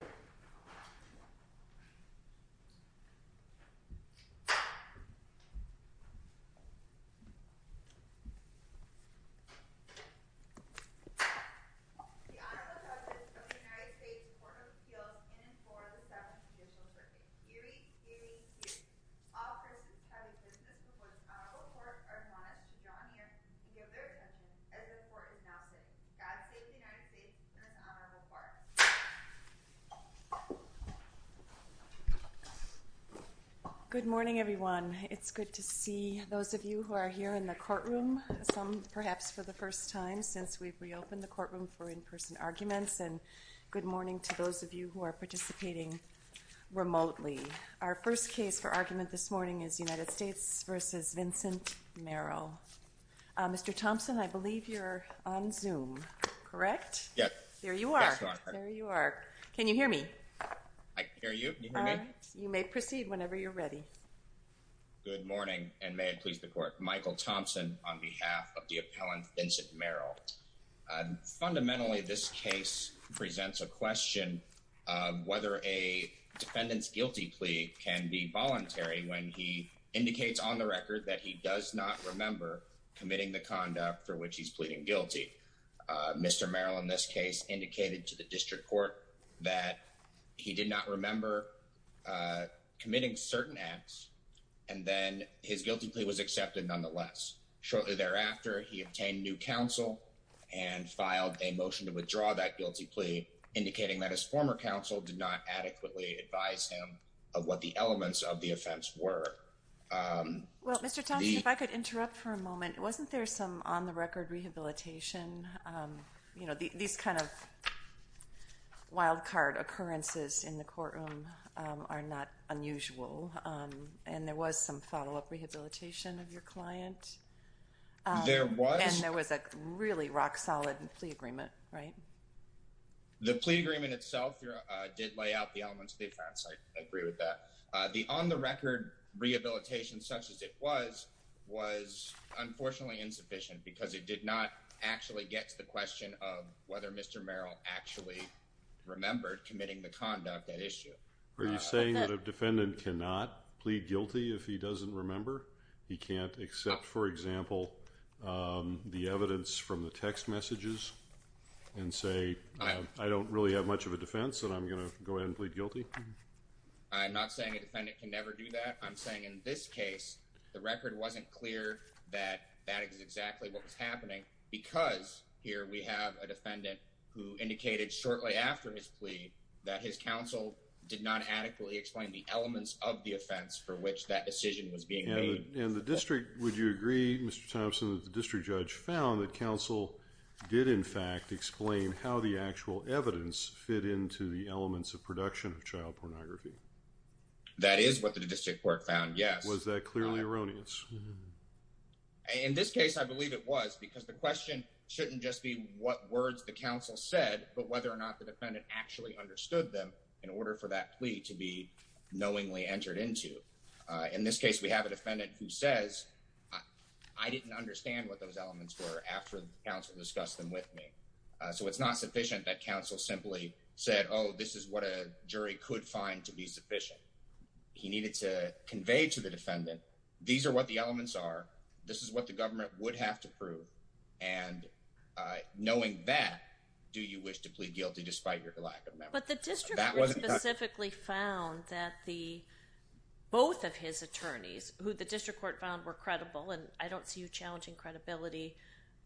The Honorable Justice of the United States Court of Appeals in and for the 7th Judicial Circuit, hearing, hearing, hearing. All persons having business with one's Honorable Court are admonished to draw near and give their attention as the Court is now sitting. God save the United States through an Honorable Court. Yes. Yes, Your Honor. There you are. Can you hear me? I can hear you. Can you hear me? You may proceed whenever you're ready. Good morning, and may it please the Court. Michael Thompson on behalf of the appellant Vincent Merrill. Fundamentally, this case presents a question of whether a defendant's guilty plea can be voluntary when he indicates on the record that he does not remember committing the conduct for which he's pleading guilty. Mr. Merrill, in this case, indicated to the District Court that he did not remember committing certain acts, and then his guilty plea was accepted nonetheless. Shortly thereafter, he obtained new counsel and filed a motion to withdraw that guilty plea, indicating that his former counsel did not adequately advise him of what the elements of the offense were. Well, Mr. Thompson, if I could interrupt for a moment. Wasn't there some on-the-record rehabilitation? You know, these kind of wild-card occurrences in the courtroom are not unusual, and there was some follow-up rehabilitation of your client. There was. And there was a really rock-solid plea agreement, right? The plea agreement itself did lay out the elements of the offense. I agree with that. The on-the-record rehabilitation, such as it was, was unfortunately insufficient because it did not actually get to the question of whether Mr. Merrill actually remembered committing the conduct at issue. Are you saying that a defendant cannot plead guilty if he doesn't remember? He can't accept, for example, the evidence from the text messages and say, I don't really have much of a defense, and I'm going to go ahead and plead guilty? I'm not saying a defendant can never do that. I'm saying in this case, the record wasn't clear that that is exactly what was happening because here we have a defendant who indicated shortly after his plea that his counsel did not adequately explain the elements of the offense for which that decision was being made. And the district, would you agree, Mr. Thompson, that the district judge found that counsel did, in fact, explain how the actual evidence fit into the elements of production of child pornography? That is what the district court found, yes. Was that clearly erroneous? In this case, I believe it was because the question shouldn't just be what words the counsel said, but whether or not the defendant actually understood them in order for that plea to be knowingly entered into. In this case, we have a defendant who says, I didn't understand what those elements were after counsel discussed them with me. So it's not sufficient that counsel simply said, oh, this is what a jury could find to be sufficient. He needed to convey to the defendant, these are what the elements are. This is what the government would have to prove. And knowing that, do you wish to plead guilty despite your lack of memory? But the district court specifically found that both of his attorneys, who the district court found were credible, and I don't see you challenging credibility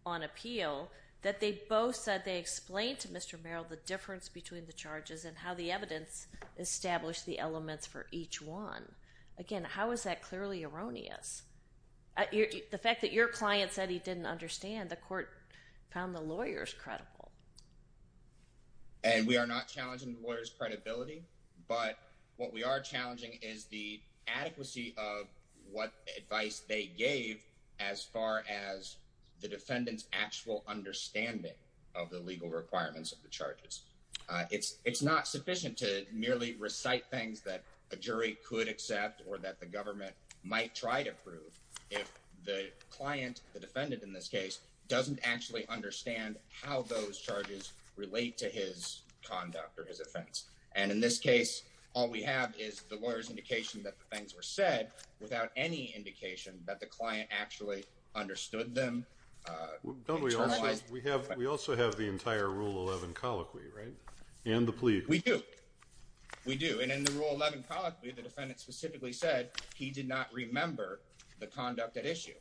on appeal, that they both said they explained to Mr. Merrill the difference between the charges and how the evidence established the elements for each one. Again, how is that clearly erroneous? The fact that your client said he didn't understand, the court found the lawyers credible. And we are not challenging the lawyers credibility. But what we are challenging is the adequacy of what advice they gave as far as the defendant's actual understanding of the legal requirements of the charges. It's not sufficient to merely recite things that a jury could accept or that the government might try to prove if the client, the defendant in this case, doesn't actually understand how those charges relate to his conduct or his offense. And in this case, all we have is the lawyer's indication that the things were said without any indication that the client actually understood them. We also have the entire Rule 11 colloquy, right? And the plea. We do. We do. And in the Rule 11 colloquy, the defendant specifically said he did not remember the conduct at issue,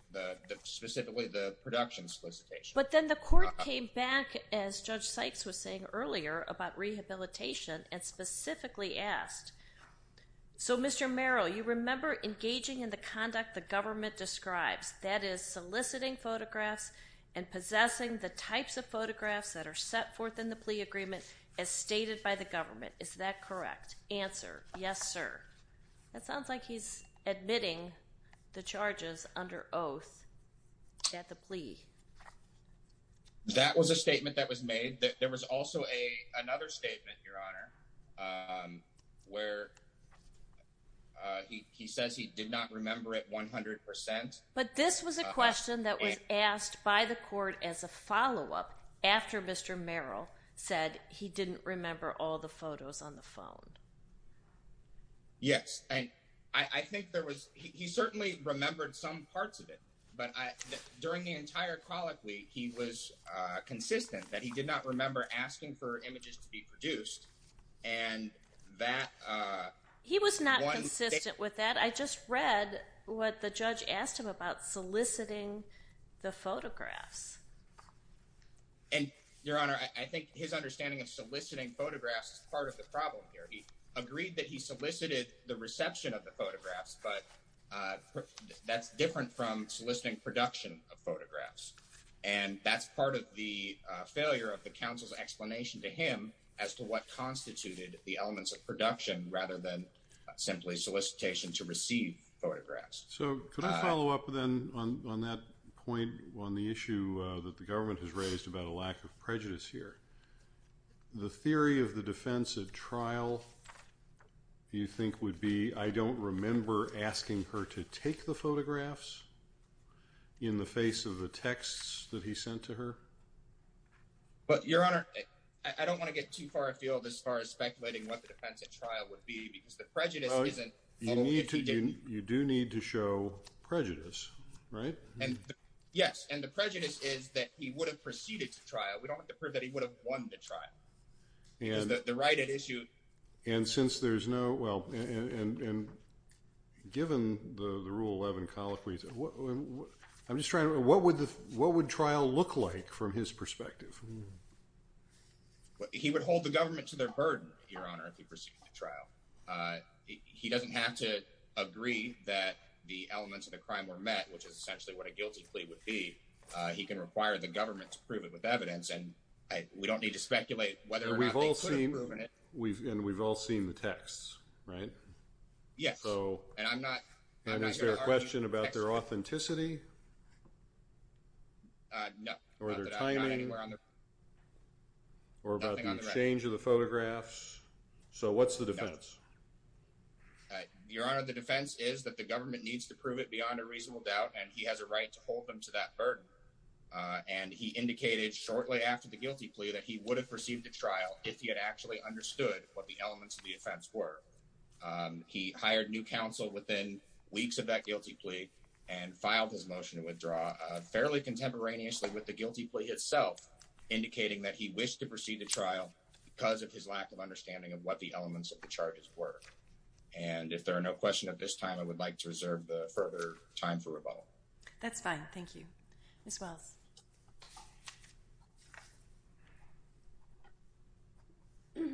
specifically the production solicitation. But then the court came back, as Judge Sykes was saying earlier, about rehabilitation and specifically asked, So, Mr. Merrill, you remember engaging in the conduct the government describes. That is, soliciting photographs and possessing the types of photographs that are set forth in the plea agreement as stated by the government. Is that correct? Answer. Yes, sir. That sounds like he's admitting the charges under oath at the plea. That was a statement that was made. There was also another statement, Your Honor, where he says he did not remember it 100%. But this was a question that was asked by the court as a follow-up after Mr. Merrill said he didn't remember all the photos on the phone. Yes. And I think there was, he certainly remembered some parts of it. But during the entire colloquy, he was consistent that he did not remember asking for images to be produced. And that. He was not consistent with that. I just read what the judge asked him about soliciting the photographs. And, Your Honor, I think his understanding of soliciting photographs is part of the problem here. He agreed that he solicited the reception of the photographs, but that's different from soliciting production of photographs. And that's part of the failure of the counsel's explanation to him as to what constituted the elements of production rather than simply solicitation to receive photographs. So, could I follow up then on that point on the issue that the government has raised about a lack of prejudice here? The theory of the defense at trial, you think, would be I don't remember asking her to take the photographs in the face of the texts that he sent to her? But, Your Honor, I don't want to get too far afield as far as speculating what the defense at trial would be because the prejudice isn't. You do need to show prejudice, right? Yes. And the prejudice is that he would have proceeded to trial. We don't have to prove that he would have won the trial. The right at issue. And since there's no. Well, and given the rule 11, I'm just trying to what would the what would trial look like from his perspective? He would hold the government to their burden, Your Honor, if he proceeded to trial. He doesn't have to agree that the elements of the crime were met, which is essentially what a guilty plea would be. He can require the government to prove it with evidence. And we don't need to speculate whether or not we've all seen. We've and we've all seen the texts, right? Yes. So and I'm not. And is there a question about their authenticity? No. Or their timing? Anywhere on the. Or about the change of the photographs. So what's the defense? Your Honor, the defense is that the government needs to prove it beyond a reasonable doubt, and he has a right to hold them to that burden. And he indicated shortly after the guilty plea that he would have received a trial if he had actually understood what the elements of the offense were. He hired new counsel within weeks of that guilty plea and filed his motion to withdraw fairly contemporaneously with the guilty plea itself, indicating that he wished to proceed to trial because of his lack of understanding of what the elements of the charges were. And if there are no questions at this time, I would like to reserve the further time for rebuttal. That's fine. Thank you. Miss Wells. Good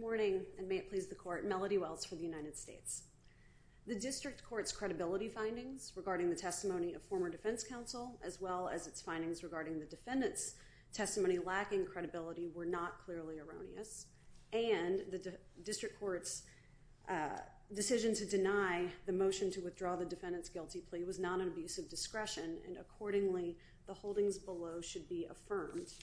morning. And may it please the court. Melody Wells for the United States. The district court's credibility findings regarding the testimony of former defense counsel, as well as its findings regarding the defendant's testimony lacking credibility, were not clearly erroneous. And the district court's decision to deny the motion to withdraw the defendant's guilty plea was not an abuse of discretion, and accordingly the holdings below should be affirmed.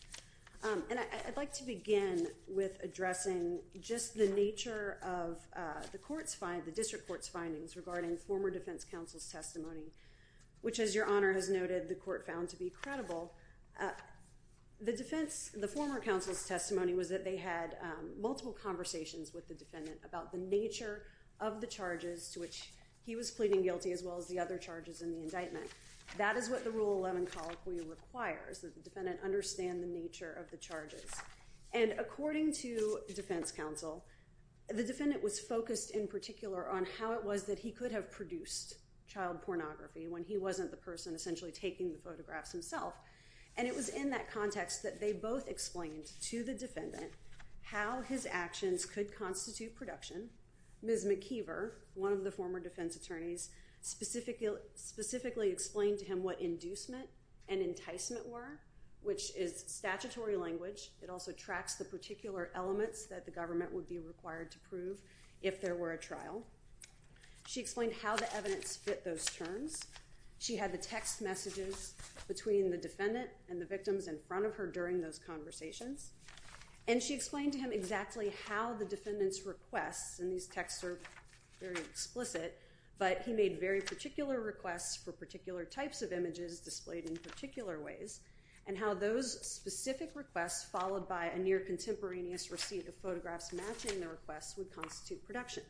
And I'd like to begin with addressing just the nature of the district court's findings regarding former defense counsel's testimony, which, as Your Honor has noted, the court found to be credible. The former counsel's testimony was that they had multiple conversations with the defendant about the nature of the charges to which he was pleading guilty, as well as the other charges in the indictment. That is what the Rule 11 colloquy requires, that the defendant understand the nature of the charges. And according to defense counsel, the defendant was focused in particular on how it was that he could have produced child pornography when he wasn't the person essentially taking the photographs himself. And it was in that context that they both explained to the defendant how his actions could constitute production. Ms. McKeever, one of the former defense attorneys, specifically explained to him what inducement and enticement were, which is statutory language. It also tracks the particular elements that the government would be required to prove if there were a trial. She explained how the evidence fit those terms. She had the text messages between the defendant and the victims in front of her during those conversations. And she explained to him exactly how the defendant's requests, and these texts are very explicit, but he made very particular requests for particular types of images displayed in particular ways, and how those specific requests followed by a near contemporaneous receipt of photographs matching the requests would constitute production.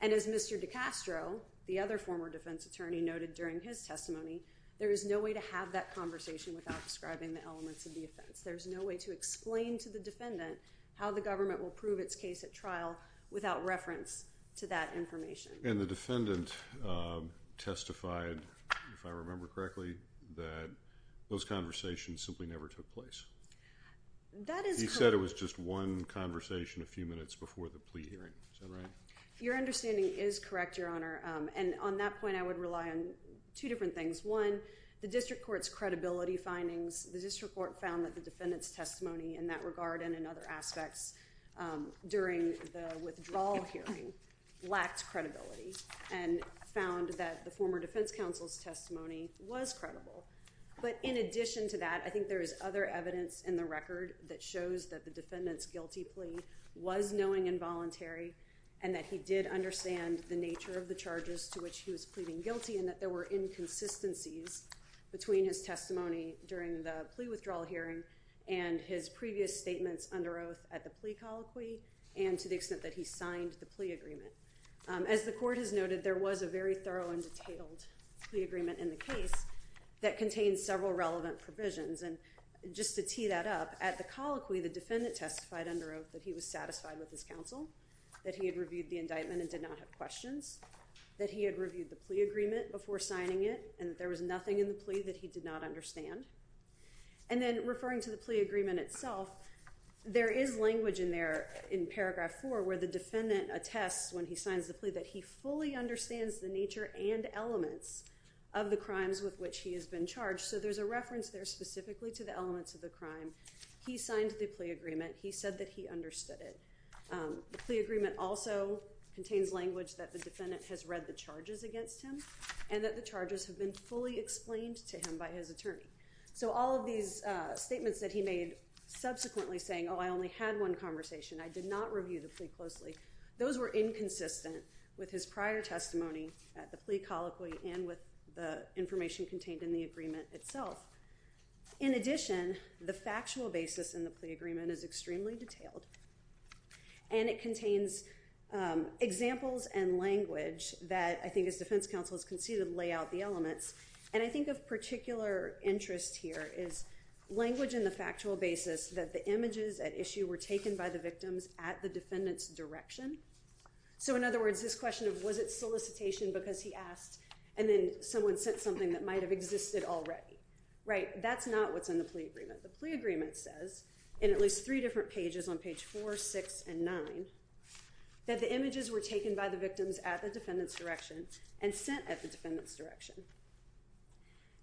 And as Mr. DiCastro, the other former defense attorney, noted during his testimony, there is no way to have that conversation without describing the elements of the offense. There's no way to explain to the defendant how the government will prove its case at trial without reference to that information. And the defendant testified, if I remember correctly, that those conversations simply never took place. That is correct. He said it was just one conversation a few minutes before the plea hearing. Is that right? Your understanding is correct, Your Honor. And on that point, I would rely on two different things. One, the district court's credibility findings. The district court found that the defendant's testimony in that regard and in other aspects during the withdrawal hearing lacked credibility and found that the former defense counsel's testimony was credible. But in addition to that, I think there is other evidence in the record that shows that the defendant's guilty plea was knowing and voluntary and that he did understand the nature of the charges to which he was pleading guilty and that there were inconsistencies between his testimony during the plea withdrawal hearing and his previous statements under oath at the plea colloquy and to the extent that he signed the plea agreement. As the court has noted, there was a very thorough and detailed plea agreement in the case that contained several relevant provisions. And just to tee that up, at the colloquy, the defendant testified under oath that he was satisfied with his counsel, that he had reviewed the indictment and did not have questions, that he had reviewed the plea agreement before signing it, and that there was nothing in the plea that he did not understand. And then referring to the plea agreement itself, there is language in there in paragraph 4 where the defendant attests when he signs the plea that he fully understands the nature and elements of the crimes with which he has been charged. So there's a reference there specifically to the elements of the crime. He signed the plea agreement. He said that he understood it. The plea agreement also contains language that the defendant has read the charges against him and that the charges have been fully explained to him by his attorney. So all of these statements that he made subsequently saying, oh, I only had one conversation, I did not review the plea closely, those were inconsistent with his prior testimony at the plea colloquy and with the information contained in the agreement itself. In addition, the factual basis in the plea agreement is extremely detailed, and it contains examples and language that I think as defense counsels can see to lay out the elements. And I think of particular interest here is language in the factual basis that the images at issue were taken by the victims at the defendant's direction. So in other words, this question of was it solicitation because he asked and then someone sent something that might have existed already, right? That's not what's in the plea agreement. The plea agreement says in at least three different pages on page 4, 6, and 9 that the images were taken by the victims at the defendant's direction and sent at the defendant's direction.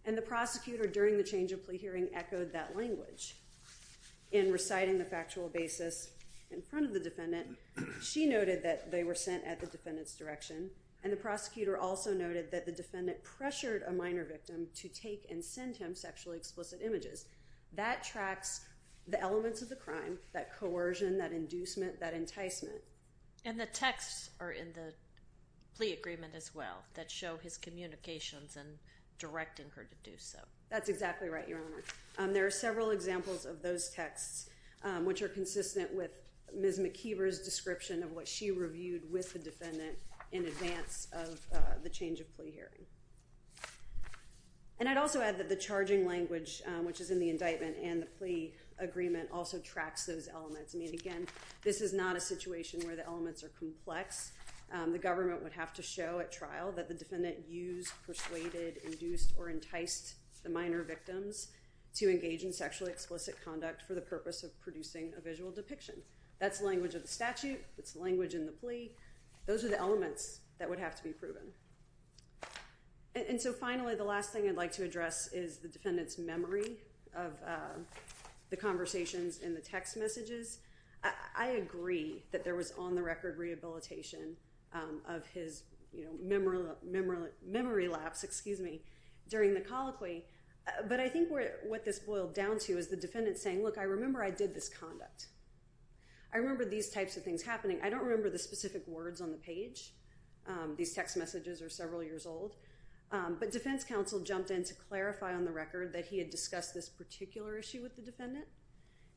And the prosecutor during the change of plea hearing echoed that language. In reciting the factual basis in front of the defendant, she noted that they were sent at the defendant's direction, and the prosecutor also noted that the defendant pressured a minor victim to take and send him sexually explicit images. That tracks the elements of the crime, that coercion, that inducement, that enticement. And the texts are in the plea agreement as well that show his communications and directing her to do so. That's exactly right, Your Honor. There are several examples of those texts which are consistent with Ms. McKeever's description of what she reviewed with the defendant in advance of the change of plea hearing. And I'd also add that the charging language, which is in the indictment and the plea agreement, also tracks those elements. I mean, again, this is not a situation where the elements are complex. The government would have to show at trial that the defendant used, persuaded, induced, or enticed the minor victims to engage in sexually explicit conduct for the purpose of producing a visual depiction. That's language of the statute. It's language in the plea. Those are the elements that would have to be proven. And so finally, the last thing I'd like to address is the defendant's memory of the conversations in the text messages. I agree that there was on-the-record rehabilitation of his memory lapse during the colloquy. But I think what this boiled down to is the defendant saying, look, I remember I did this conduct. I remember these types of things happening. I don't remember the specific words on the page. These text messages are several years old. But defense counsel jumped in to clarify on the record that he had discussed this particular issue with the defendant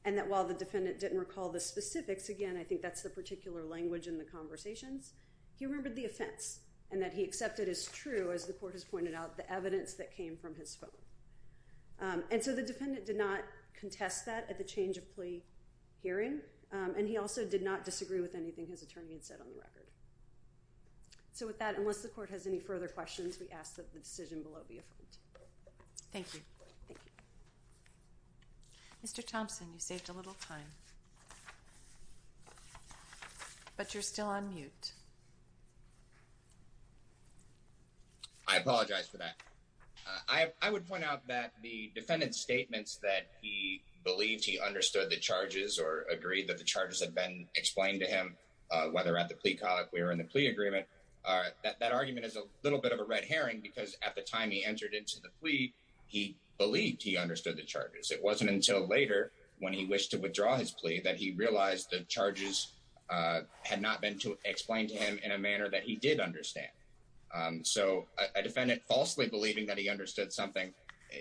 and that while the defendant didn't recall the specifics, again, I think that's the particular language in the conversations, he remembered the offense and that he accepted as true, as the court has pointed out, the evidence that came from his phone. And so the defendant did not contest that at the change of plea hearing, and he also did not disagree with anything his attorney had said on the record. So with that, unless the court has any further questions, we ask that the decision below be affirmed. Thank you. Mr. Thompson, you saved a little time. But you're still on mute. I apologize for that. I would point out that the defendant's statements that he believed he understood the charges or agreed that the charges had been explained to him, whether at the plea colloquy or in the plea agreement, that argument is a little bit of a red herring because at the time he entered into the plea, he believed he understood the charges. It wasn't until later when he wished to withdraw his plea that he realized the charges had not been explained to him in a manner that he did understand. So a defendant falsely believing that he understood something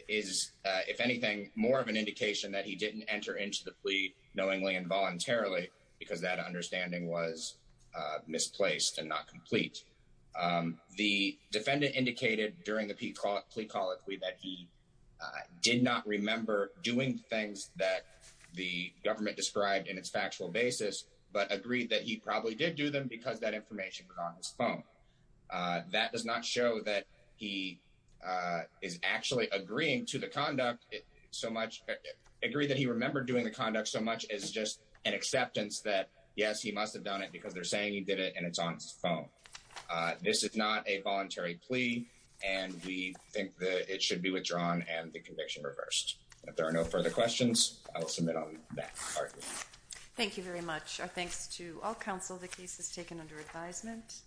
is, if anything, more of an indication that he didn't enter into the plea knowingly and voluntarily because that understanding was misplaced and not complete. The defendant indicated during the plea colloquy that he did not remember doing things that the government described in its factual basis, but agreed that he probably did do them because that information was on his phone. That does not show that he is actually agreeing to the conduct so much, agree that he remembered doing the conduct so much as just an acceptance that, yes, he must have done it because they're saying he did it and it's on his phone. This is not a voluntary plea, and we think that it should be withdrawn and the conviction reversed. If there are no further questions, I will submit on that argument. Thank you very much. Our thanks to all counsel. The case is taken under advisement.